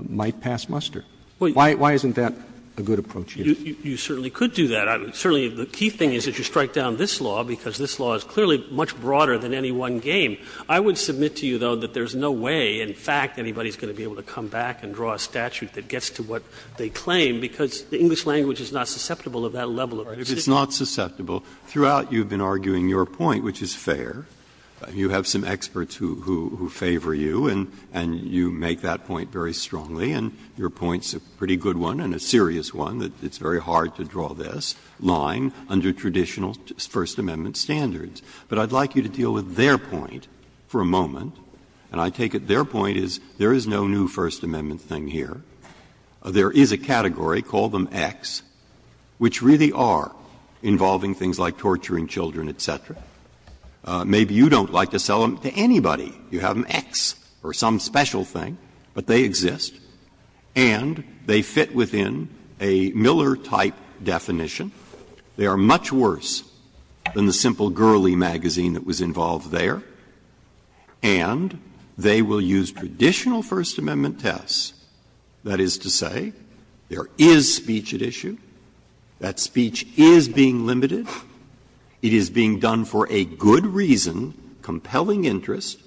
might pass muster. Why isn't that a good approach? You certainly could do that. Certainly the key thing is that you strike down this law, because this law is clearly much broader than any one game. I would submit to you, though, that there's no way, in fact, anybody's going to be able to come back and draw a statute that gets to what they claim, because the English language is not susceptible of that level of precision. Breyer. If it's not susceptible, throughout you've been arguing your point, which is fair. You have some experts who favor you, and you make that point very strongly, and your point's a pretty good one and a serious one, that it's very hard to draw this line under traditional First Amendment standards. But I'd like you to deal with their point for a moment, and I take it their point is there is no new First Amendment thing here. There is a category, call them X, which really are involving things like torturing children, et cetera. Maybe you don't like to sell them to anybody. You have an X or some special thing, but they exist, and they fit within a Miller type definition. They are much worse than the simple girly magazine that was involved there. And they will use traditional First Amendment tests, that is to say, there is speech at issue, that speech is being limited, it is being done for a good reason, compelling interest,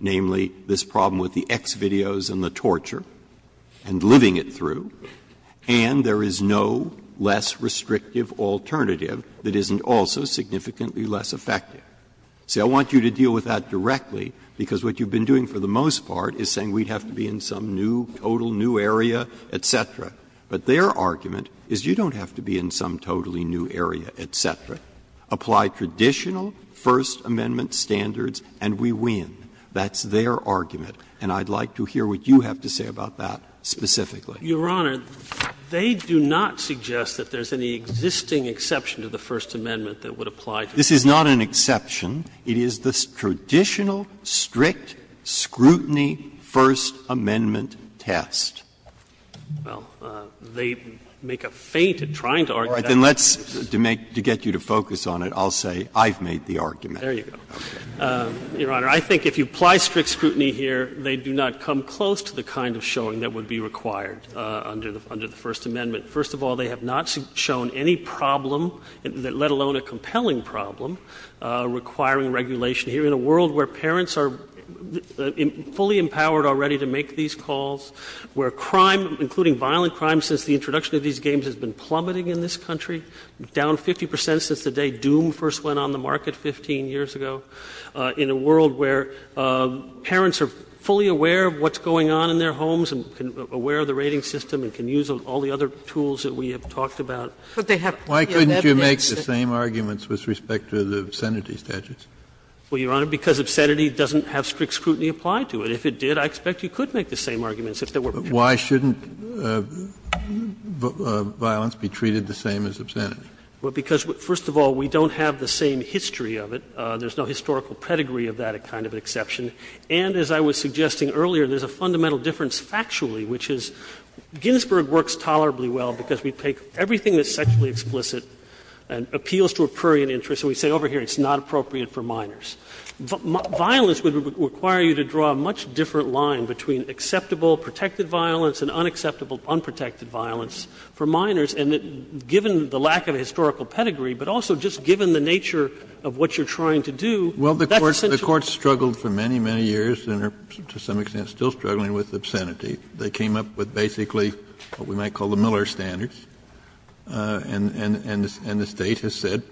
namely, this problem with the X videos and the torture, and living it through, and there is no less restrictive alternative that isn't also significantly less effective. See, I want you to deal with that directly, because what you've been doing for the most part is saying we'd have to be in some new, total new area, et cetera. But their argument is you don't have to be in some totally new area, et cetera. Apply traditional First Amendment standards and we win. That's their argument, and I'd like to hear what you have to say about that specifically. Your Honor, they do not suggest that there is any existing exception to the First Amendment that would apply to this. This is not an exception. It is the traditional strict scrutiny First Amendment test. Well, they make a feint at trying to argue that. All right. Then let's, to make, to get you to focus on it, I'll say I've made the argument. There you go. Your Honor, I think if you apply strict scrutiny here, they do not come close to the kind of showing that would be required. Under the First Amendment. First of all, they have not shown any problem, let alone a compelling problem, requiring regulation here. In a world where parents are fully empowered already to make these calls, where crime, including violent crime since the introduction of these games, has been plummeting in this country. Down 50% since the day Doom first went on the market 15 years ago. In a world where parents are fully aware of what's going on in their homes and aware of the rating system and can use all the other tools that we have talked about. Why couldn't you make the same arguments with respect to the obscenity statutes? Well, Your Honor, because obscenity doesn't have strict scrutiny applied to it. If it did, I expect you could make the same arguments if there were. Why shouldn't violence be treated the same as obscenity? Well, because, first of all, we don't have the same history of it. There's no historical pedigree of that kind of exception. And as I was suggesting earlier, there's a fundamental difference factually, which is Ginsburg works tolerably well because we take everything that's sexually explicit and appeals to a prurient interest, and we say over here it's not appropriate for minors. Violence would require you to draw a much different line between acceptable protected violence and unacceptable unprotected violence for minors. And given the lack of a historical pedigree, but also just given the nature of what you're trying to do, that's a situation. Kennedy, the Court struggled for many, many years and are to some extent still struggling with obscenity. They came up with basically what we might call the Miller standards, and the State has said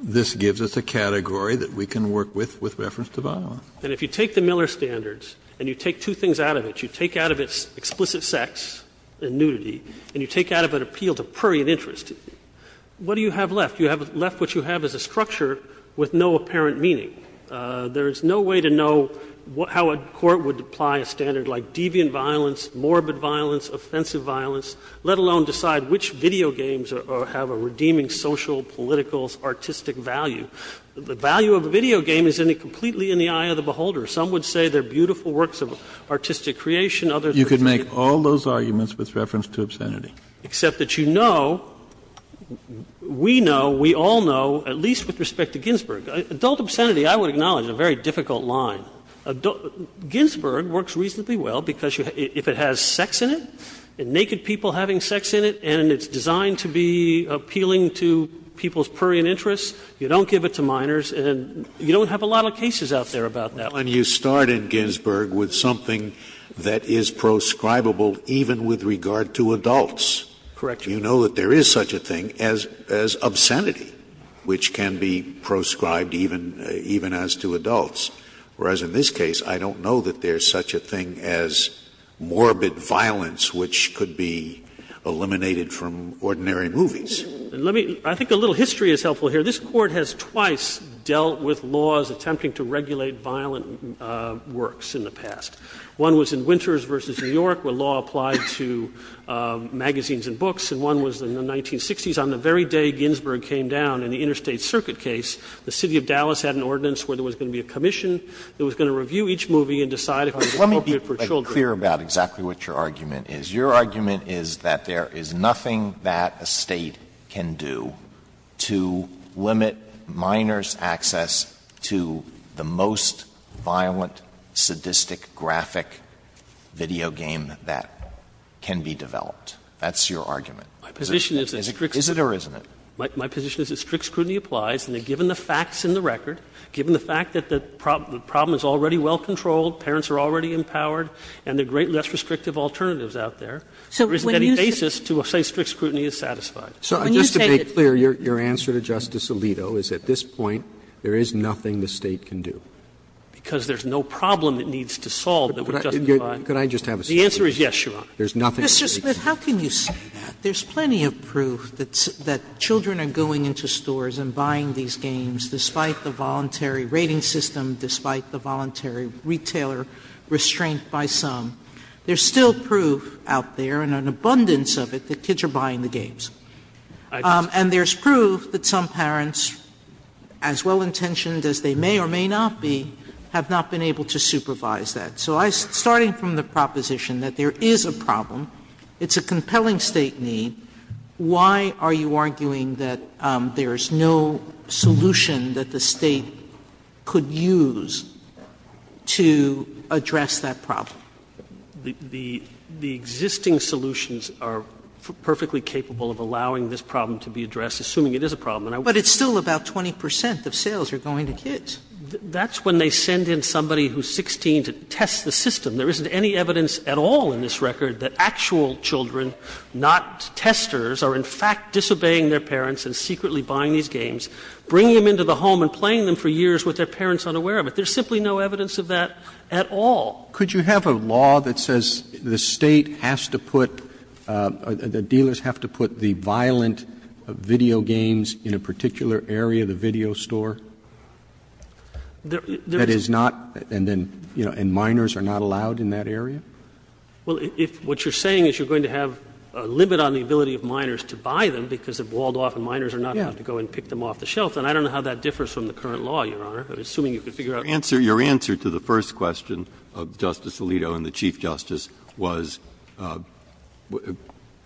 this gives us a category that we can work with with reference to violence. And if you take the Miller standards and you take two things out of it, you take out of it explicit sex and nudity, and you take out of it appeal to prurient interest, what do you have left? You have left what you have as a structure with no apparent meaning. There is no way to know how a court would apply a standard like deviant violence, morbid violence, offensive violence, let alone decide which video games have a redeeming social, political, artistic value. The value of a video game is completely in the eye of the beholder. Some would say they're beautiful works of artistic creation, others would say they're beautiful works of artistic creation. Kennedy, you could make all those arguments with reference to obscenity. Except that you know, we know, we all know, at least with respect to Ginsburg, adult obscenity, I would acknowledge, is a very difficult line. Ginsburg works reasonably well because if it has sex in it, naked people having sex in it, and it's designed to be appealing to people's prurient interests, you don't give it to minors, and you don't have a lot of cases out there about that. Scalia, when you start in Ginsburg with something that is proscribable even with regard to adults, you know that there is such a thing as obscenity, which can be proscribed even as to adults, whereas in this case, I don't know that there is such a thing as morbid violence, which could be eliminated from ordinary movies. Let me — I think a little history is helpful here. This Court has twice dealt with laws attempting to regulate violent works in the past. One was in Winters v. New York, where law applied to magazines and books, and one was in the 1960s on the very day Ginsburg came down in the Interstate Circuit case. The city of Dallas had an ordinance where there was going to be a commission that was going to review each movie and decide if it was appropriate for children. Alito, let me be clear about exactly what your argument is. Your argument is that there is nothing that a State can do to limit minors' access to the most violent, sadistic, graphic video game that can be developed. That's your argument. Is it or isn't it? My position is that strict scrutiny applies, and that given the facts in the record, given the fact that the problem is already well controlled, parents are already empowered, and there are great less restrictive alternatives out there, there isn't any basis to say strict scrutiny is satisfied. Sotomayor, just to make clear, your answer to Justice Alito is at this point, there is nothing the State can do. Because there is no problem it needs to solve that would justify it. Could I just have a statement? The answer is yes, Your Honor. There is nothing the State can do. Sotomayor, Mr. Smith, how can you say that? There is plenty of proof that children are going into stores and buying these games despite the voluntary rating system, despite the voluntary retailer restraint by some. There is still proof out there, and an abundance of it, that kids are buying the games. And there is proof that some parents, as well-intentioned as they may or may not be, have not been able to supervise that. So I am starting from the proposition that there is a problem, it's a compelling State need, why are you arguing that there is no solution that the State could use to address that problem? The existing solutions are perfectly capable of allowing this problem to be addressed, assuming it is a problem. But it's still about 20 percent of sales are going to kids. That's when they send in somebody who is 16 to test the system. There isn't any evidence at all in this record that actual children, not testers, are in fact disobeying their parents and secretly buying these games, bringing them into the home and playing them for years with their parents unaware of it. There is simply no evidence of that at all. Could you have a law that says the State has to put, the dealers have to put the violent video games in a particular area, the video store? That is not, and then, you know, and minors are not allowed in that area? Well, if what you are saying is you are going to have a limit on the ability of minors to buy them because they are balled off and minors are not going to go and pick them off the shelf, then I don't know how that differs from the current law, Your Honor, assuming you could figure out. Breyer's answer, your answer to the first question of Justice Alito and the Chief Justice was,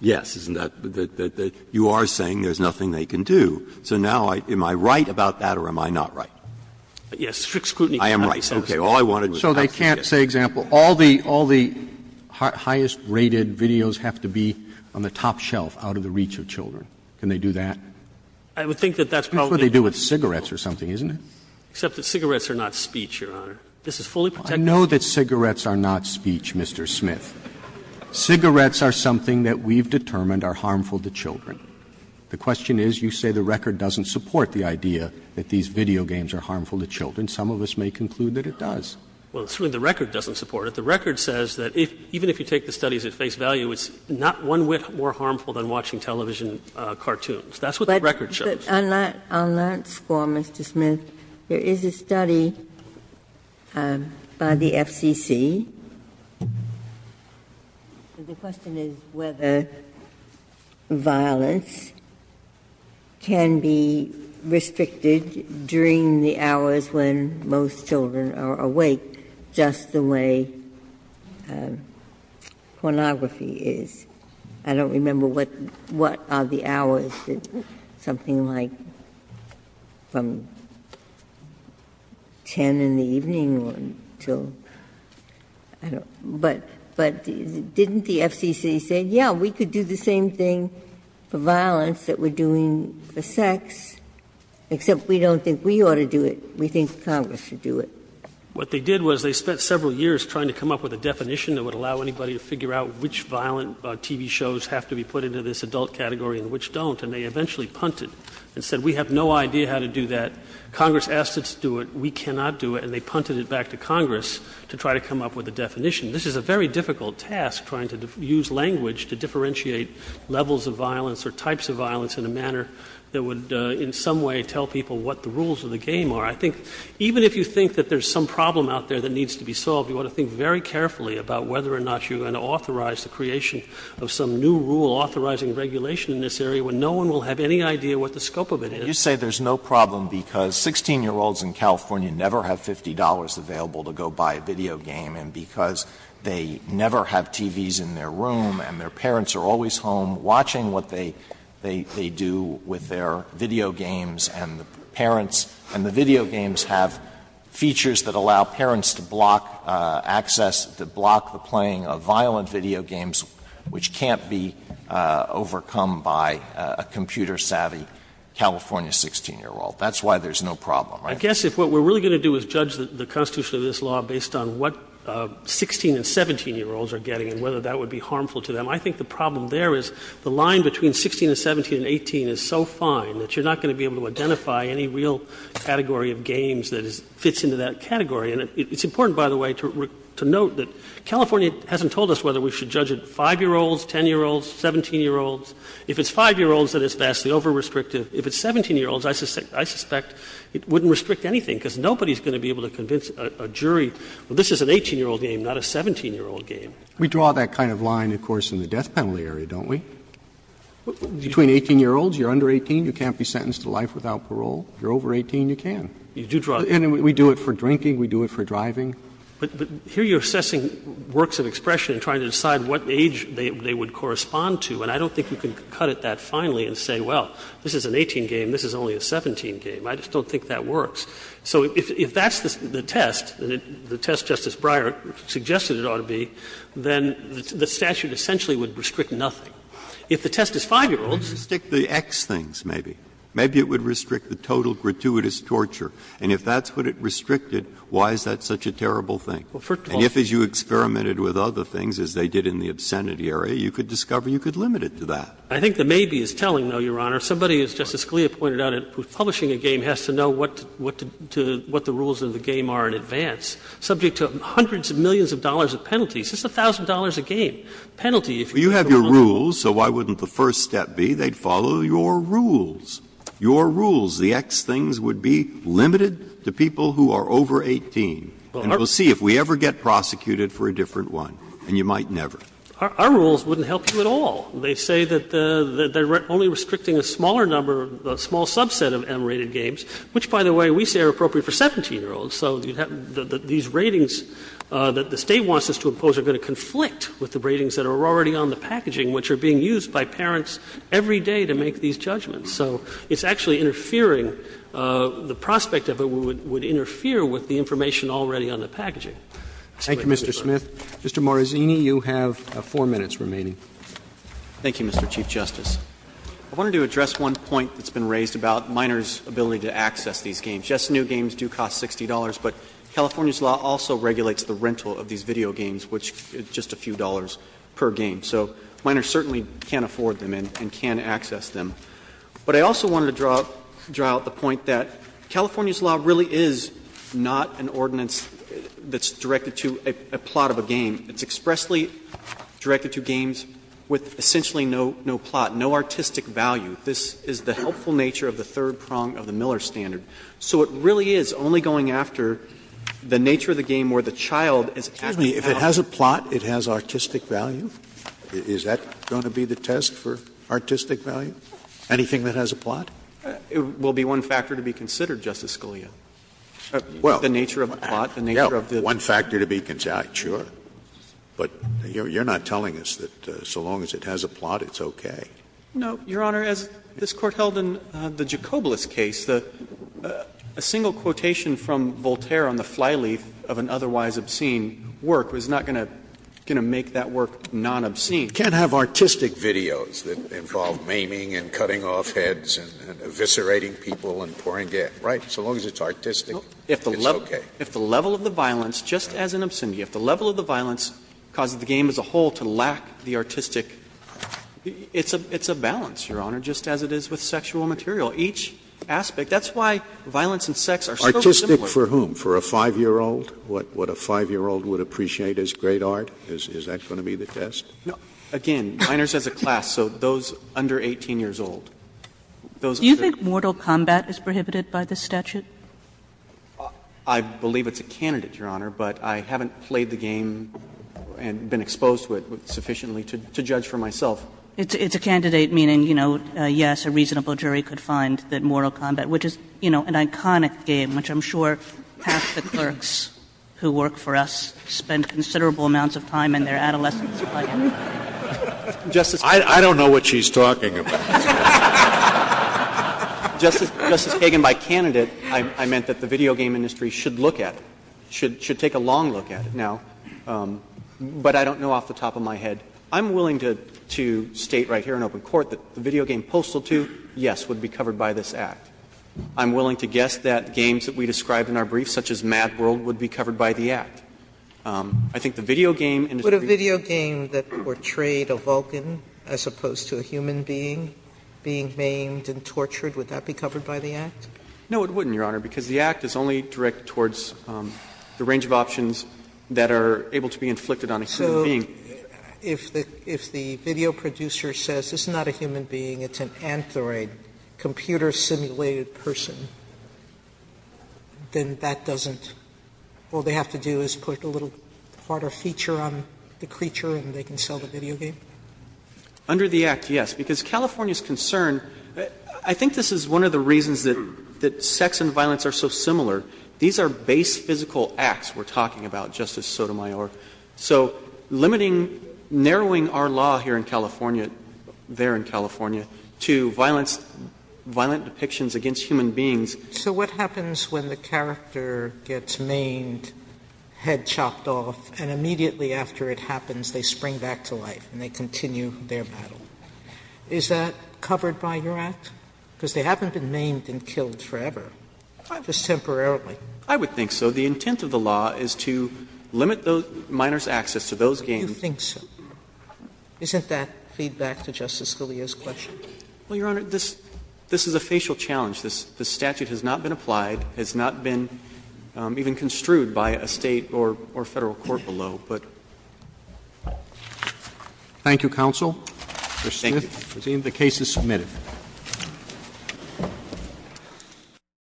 yes, isn't that, you are saying there is nothing they can do. So now, am I right about that or am I not right? Yes. Strict scrutiny. I am right. Okay. All I wanted was to ask you this. So they can't say, example, all the highest rated videos have to be on the top shelf out of the reach of children. Can they do that? I would think that that's probably what they do. That's what they do with cigarettes or something, isn't it? Except that cigarettes are not speech, Your Honor. This is fully protected. I know that cigarettes are not speech, Mr. Smith. Cigarettes are something that we have determined are harmful to children. The question is, you say the record doesn't support the idea that these video games are harmful to children. Some of us may conclude that it does. Well, certainly the record doesn't support it. The record says that even if you take the studies at face value, it's not one whit more harmful than watching television cartoons. That's what the record shows. But on that score, Mr. Smith, there is a study by the FCC. The question is whether violence can be restricted during the hours when most children are awake, just the way pornography is. I don't remember what are the hours, but something like from 10 in the evening to, I don't know, but didn't the FCC say, yeah, we could do the same thing for violence that we're doing for sex, except we don't think we ought to do it, we think Congress should do it? What they did was they spent several years trying to come up with a definition that would allow anybody to figure out which violent TV shows have to be put into this adult category and which don't, and they eventually punted and said, we have no idea how to do that. Congress asked us to do it. We cannot do it. And they punted it back to Congress to try to come up with a definition. This is a very difficult task, trying to use language to differentiate levels of violence or types of violence in a manner that would in some way tell people what the rules of the game are. I think even if you think that there's some problem out there that needs to be solved, you ought to think very carefully about whether or not you're going to authorize the creation of some new rule authorizing regulation in this area when no one will have any idea what the scope of it is. Alito, you say there's no problem because 16-year-olds in California never have $50 available to go buy a video game, and because they never have TVs in their room and their parents are always home watching what they do with their video games and the parents and the video games have features that allow parents to block access to block the playing of violent video games, which can't be overcome by a computer savvy California child. I don't think there's a problem there, but I don't think there's a problem in the case of a California 16-year-old. That's why there's no problem, right? I guess if what we're really going to do is judge the constitution of this law based on what 16- and 17-year-olds are getting and whether that would be harmful to them, I think the problem there is the line between 16 and 17 and 18 is so fine that you're not going to be able to identify any real category of games that fits into that category. And it's important, by the way, to note that California hasn't told us whether we should judge it 5-year-olds, 10-year-olds, 17-year-olds. If it's 5-year-olds, then it's vastly over-restrictive. If it's 17-year-olds, I suspect it wouldn't restrict anything because nobody is going to be able to convince a jury, well, this is an 18-year-old game, not a 17-year-old game. Roberts. We draw that kind of line, of course, in the death penalty area, don't we? Between 18-year-olds, you're under 18, you can't be sentenced to life without parole. If you're over 18, you can. And we do it for drinking, we do it for driving. But here you're assessing works of expression and trying to decide what age they would correspond to, and I don't think you can cut it that finely and say, well, this is an 18 game, this is only a 17 game. I just don't think that works. So if that's the test, and the test Justice Breyer suggested it ought to be, then the statute essentially would restrict nothing. If the test is 5-year-olds. Breyer, maybe it would restrict the X things, maybe. Maybe it would restrict the total gratuitous torture. And if that's what it restricted, why is that such a terrible thing? And if, as you experimented with other things, as they did in the obscenity area, you could discover you could limit it to that. I think the maybe is telling, though, Your Honor. Somebody, as Justice Scalia pointed out, who's publishing a game has to know what the rules of the game are in advance, subject to hundreds of millions of dollars of penalties. It's $1,000 a game. Penalty, if you were to run a law firm. Well, you have your rules, so why wouldn't the first step be they'd follow your rules? Your rules, the X things, would be limited to people who are over 18. And we'll see if we ever get prosecuted for a different one, and you might never. Our rules wouldn't help you at all. They say that they're only restricting a smaller number, a small subset of M-rated games, which, by the way, we say are appropriate for 17-year-olds. So these ratings that the State wants us to impose are going to conflict with the ratings that are already on the packaging, which are being used by parents every day to make these judgments. So it's actually interfering, the prospect of it would interfere with the information already on the packaging. Roberts. Roberts. Roberts. Roberts. Roberts. Roberts. Mr. Morazzini, you have 4 minutes remaining. Thank you, Mr. Chief Justice. I wanted to address one point that's been raised about Miners' ability to access these games. Just new games do cost $60, but California's law also regulates the rental of these video games, which is just a few dollars per game. So Miners certainly can't afford them and can't access them. But I also wanted to draw out the point that California's law really is not an ordinance that's directed to a plot of a game. It's expressly directed to games with essentially no plot, no artistic value. This is the helpful nature of the third prong of the Miller standard. So it really is only going after the nature of the game where the child is actually allowed to play. Scalia, if it has a plot, it has artistic value? Is that going to be the test for artistic value? Anything that has a plot? It will be one factor to be considered, Justice Scalia. Well, one factor to be considered, sure. But you're not telling us that so long as it has a plot, it's okay. No, Your Honor. As this Court held in the Jacoblis case, a single quotation from Voltaire on the fly leaf of an otherwise obscene work was not going to make that work non-obscene. You can't have artistic videos that involve maiming and cutting off heads and eviscerating people and pouring gas, right? So long as it's artistic, it's okay. If the level of the violence, just as in obscenity, if the level of the violence causes the game as a whole to lack the artistic, it's a balance, Your Honor, just as it is with sexual material. Each aspect — that's why violence and sex are so similar. Artistic for whom? For a 5-year-old? What a 5-year-old would appreciate as great art? Is that going to be the test? No. Again, minors as a class, so those under 18 years old. Those are the — Do you think mortal combat is prohibited by this statute? I believe it's a candidate, Your Honor, but I haven't played the game and been exposed to it sufficiently to judge for myself. It's a candidate, meaning, you know, yes, a reasonable jury could find that mortal combat, which is, you know, an iconic game, which I'm sure half the clerks who work for us spend considerable amounts of time in their adolescence playing. I don't know what she's talking about. Justice Kagan, by candidate, I meant that the video game industry should look at it, should take a long look at it now, but I don't know off the top of my head. I'm willing to state right here in open court that the video game postal tooth, yes, would be covered by this Act. I'm willing to guess that games that we described in our brief, such as Mad World, would be covered by the Act. I think the video game industry needs to be covered by the Act. Sotomayor, would a video game that portrayed a Vulcan as opposed to a human being being maimed and tortured, would that be covered by the Act? No, it wouldn't, Your Honor, because the Act is only direct towards the range of options that are able to be inflicted on a human being. So if the video producer says it's not a human being, it's an anthroid, computer simulated person, then that doesn't – all they have to do is put a little harder feature on the creature and they can sell the video game? Under the Act, yes, because California's concern – I think this is one of the reasons that sex and violence are so similar. These are base physical acts we're talking about, Justice Sotomayor. So limiting, narrowing our law here in California, there in California, to violence against – violent depictions against human beings. So what happens when the character gets maimed, head chopped off, and immediately after it happens, they spring back to life and they continue their battle? Is that covered by your Act? Because they haven't been maimed and killed forever. It's temporarily. I would think so. The intent of the law is to limit those minors' access to those games. You think so. Isn't that feedback to Justice Scalia's question? Well, Your Honor, this is a facial challenge. This statute has not been applied, has not been even construed by a State or Federal court below, but. Thank you, counsel. Thank you. The case is submitted.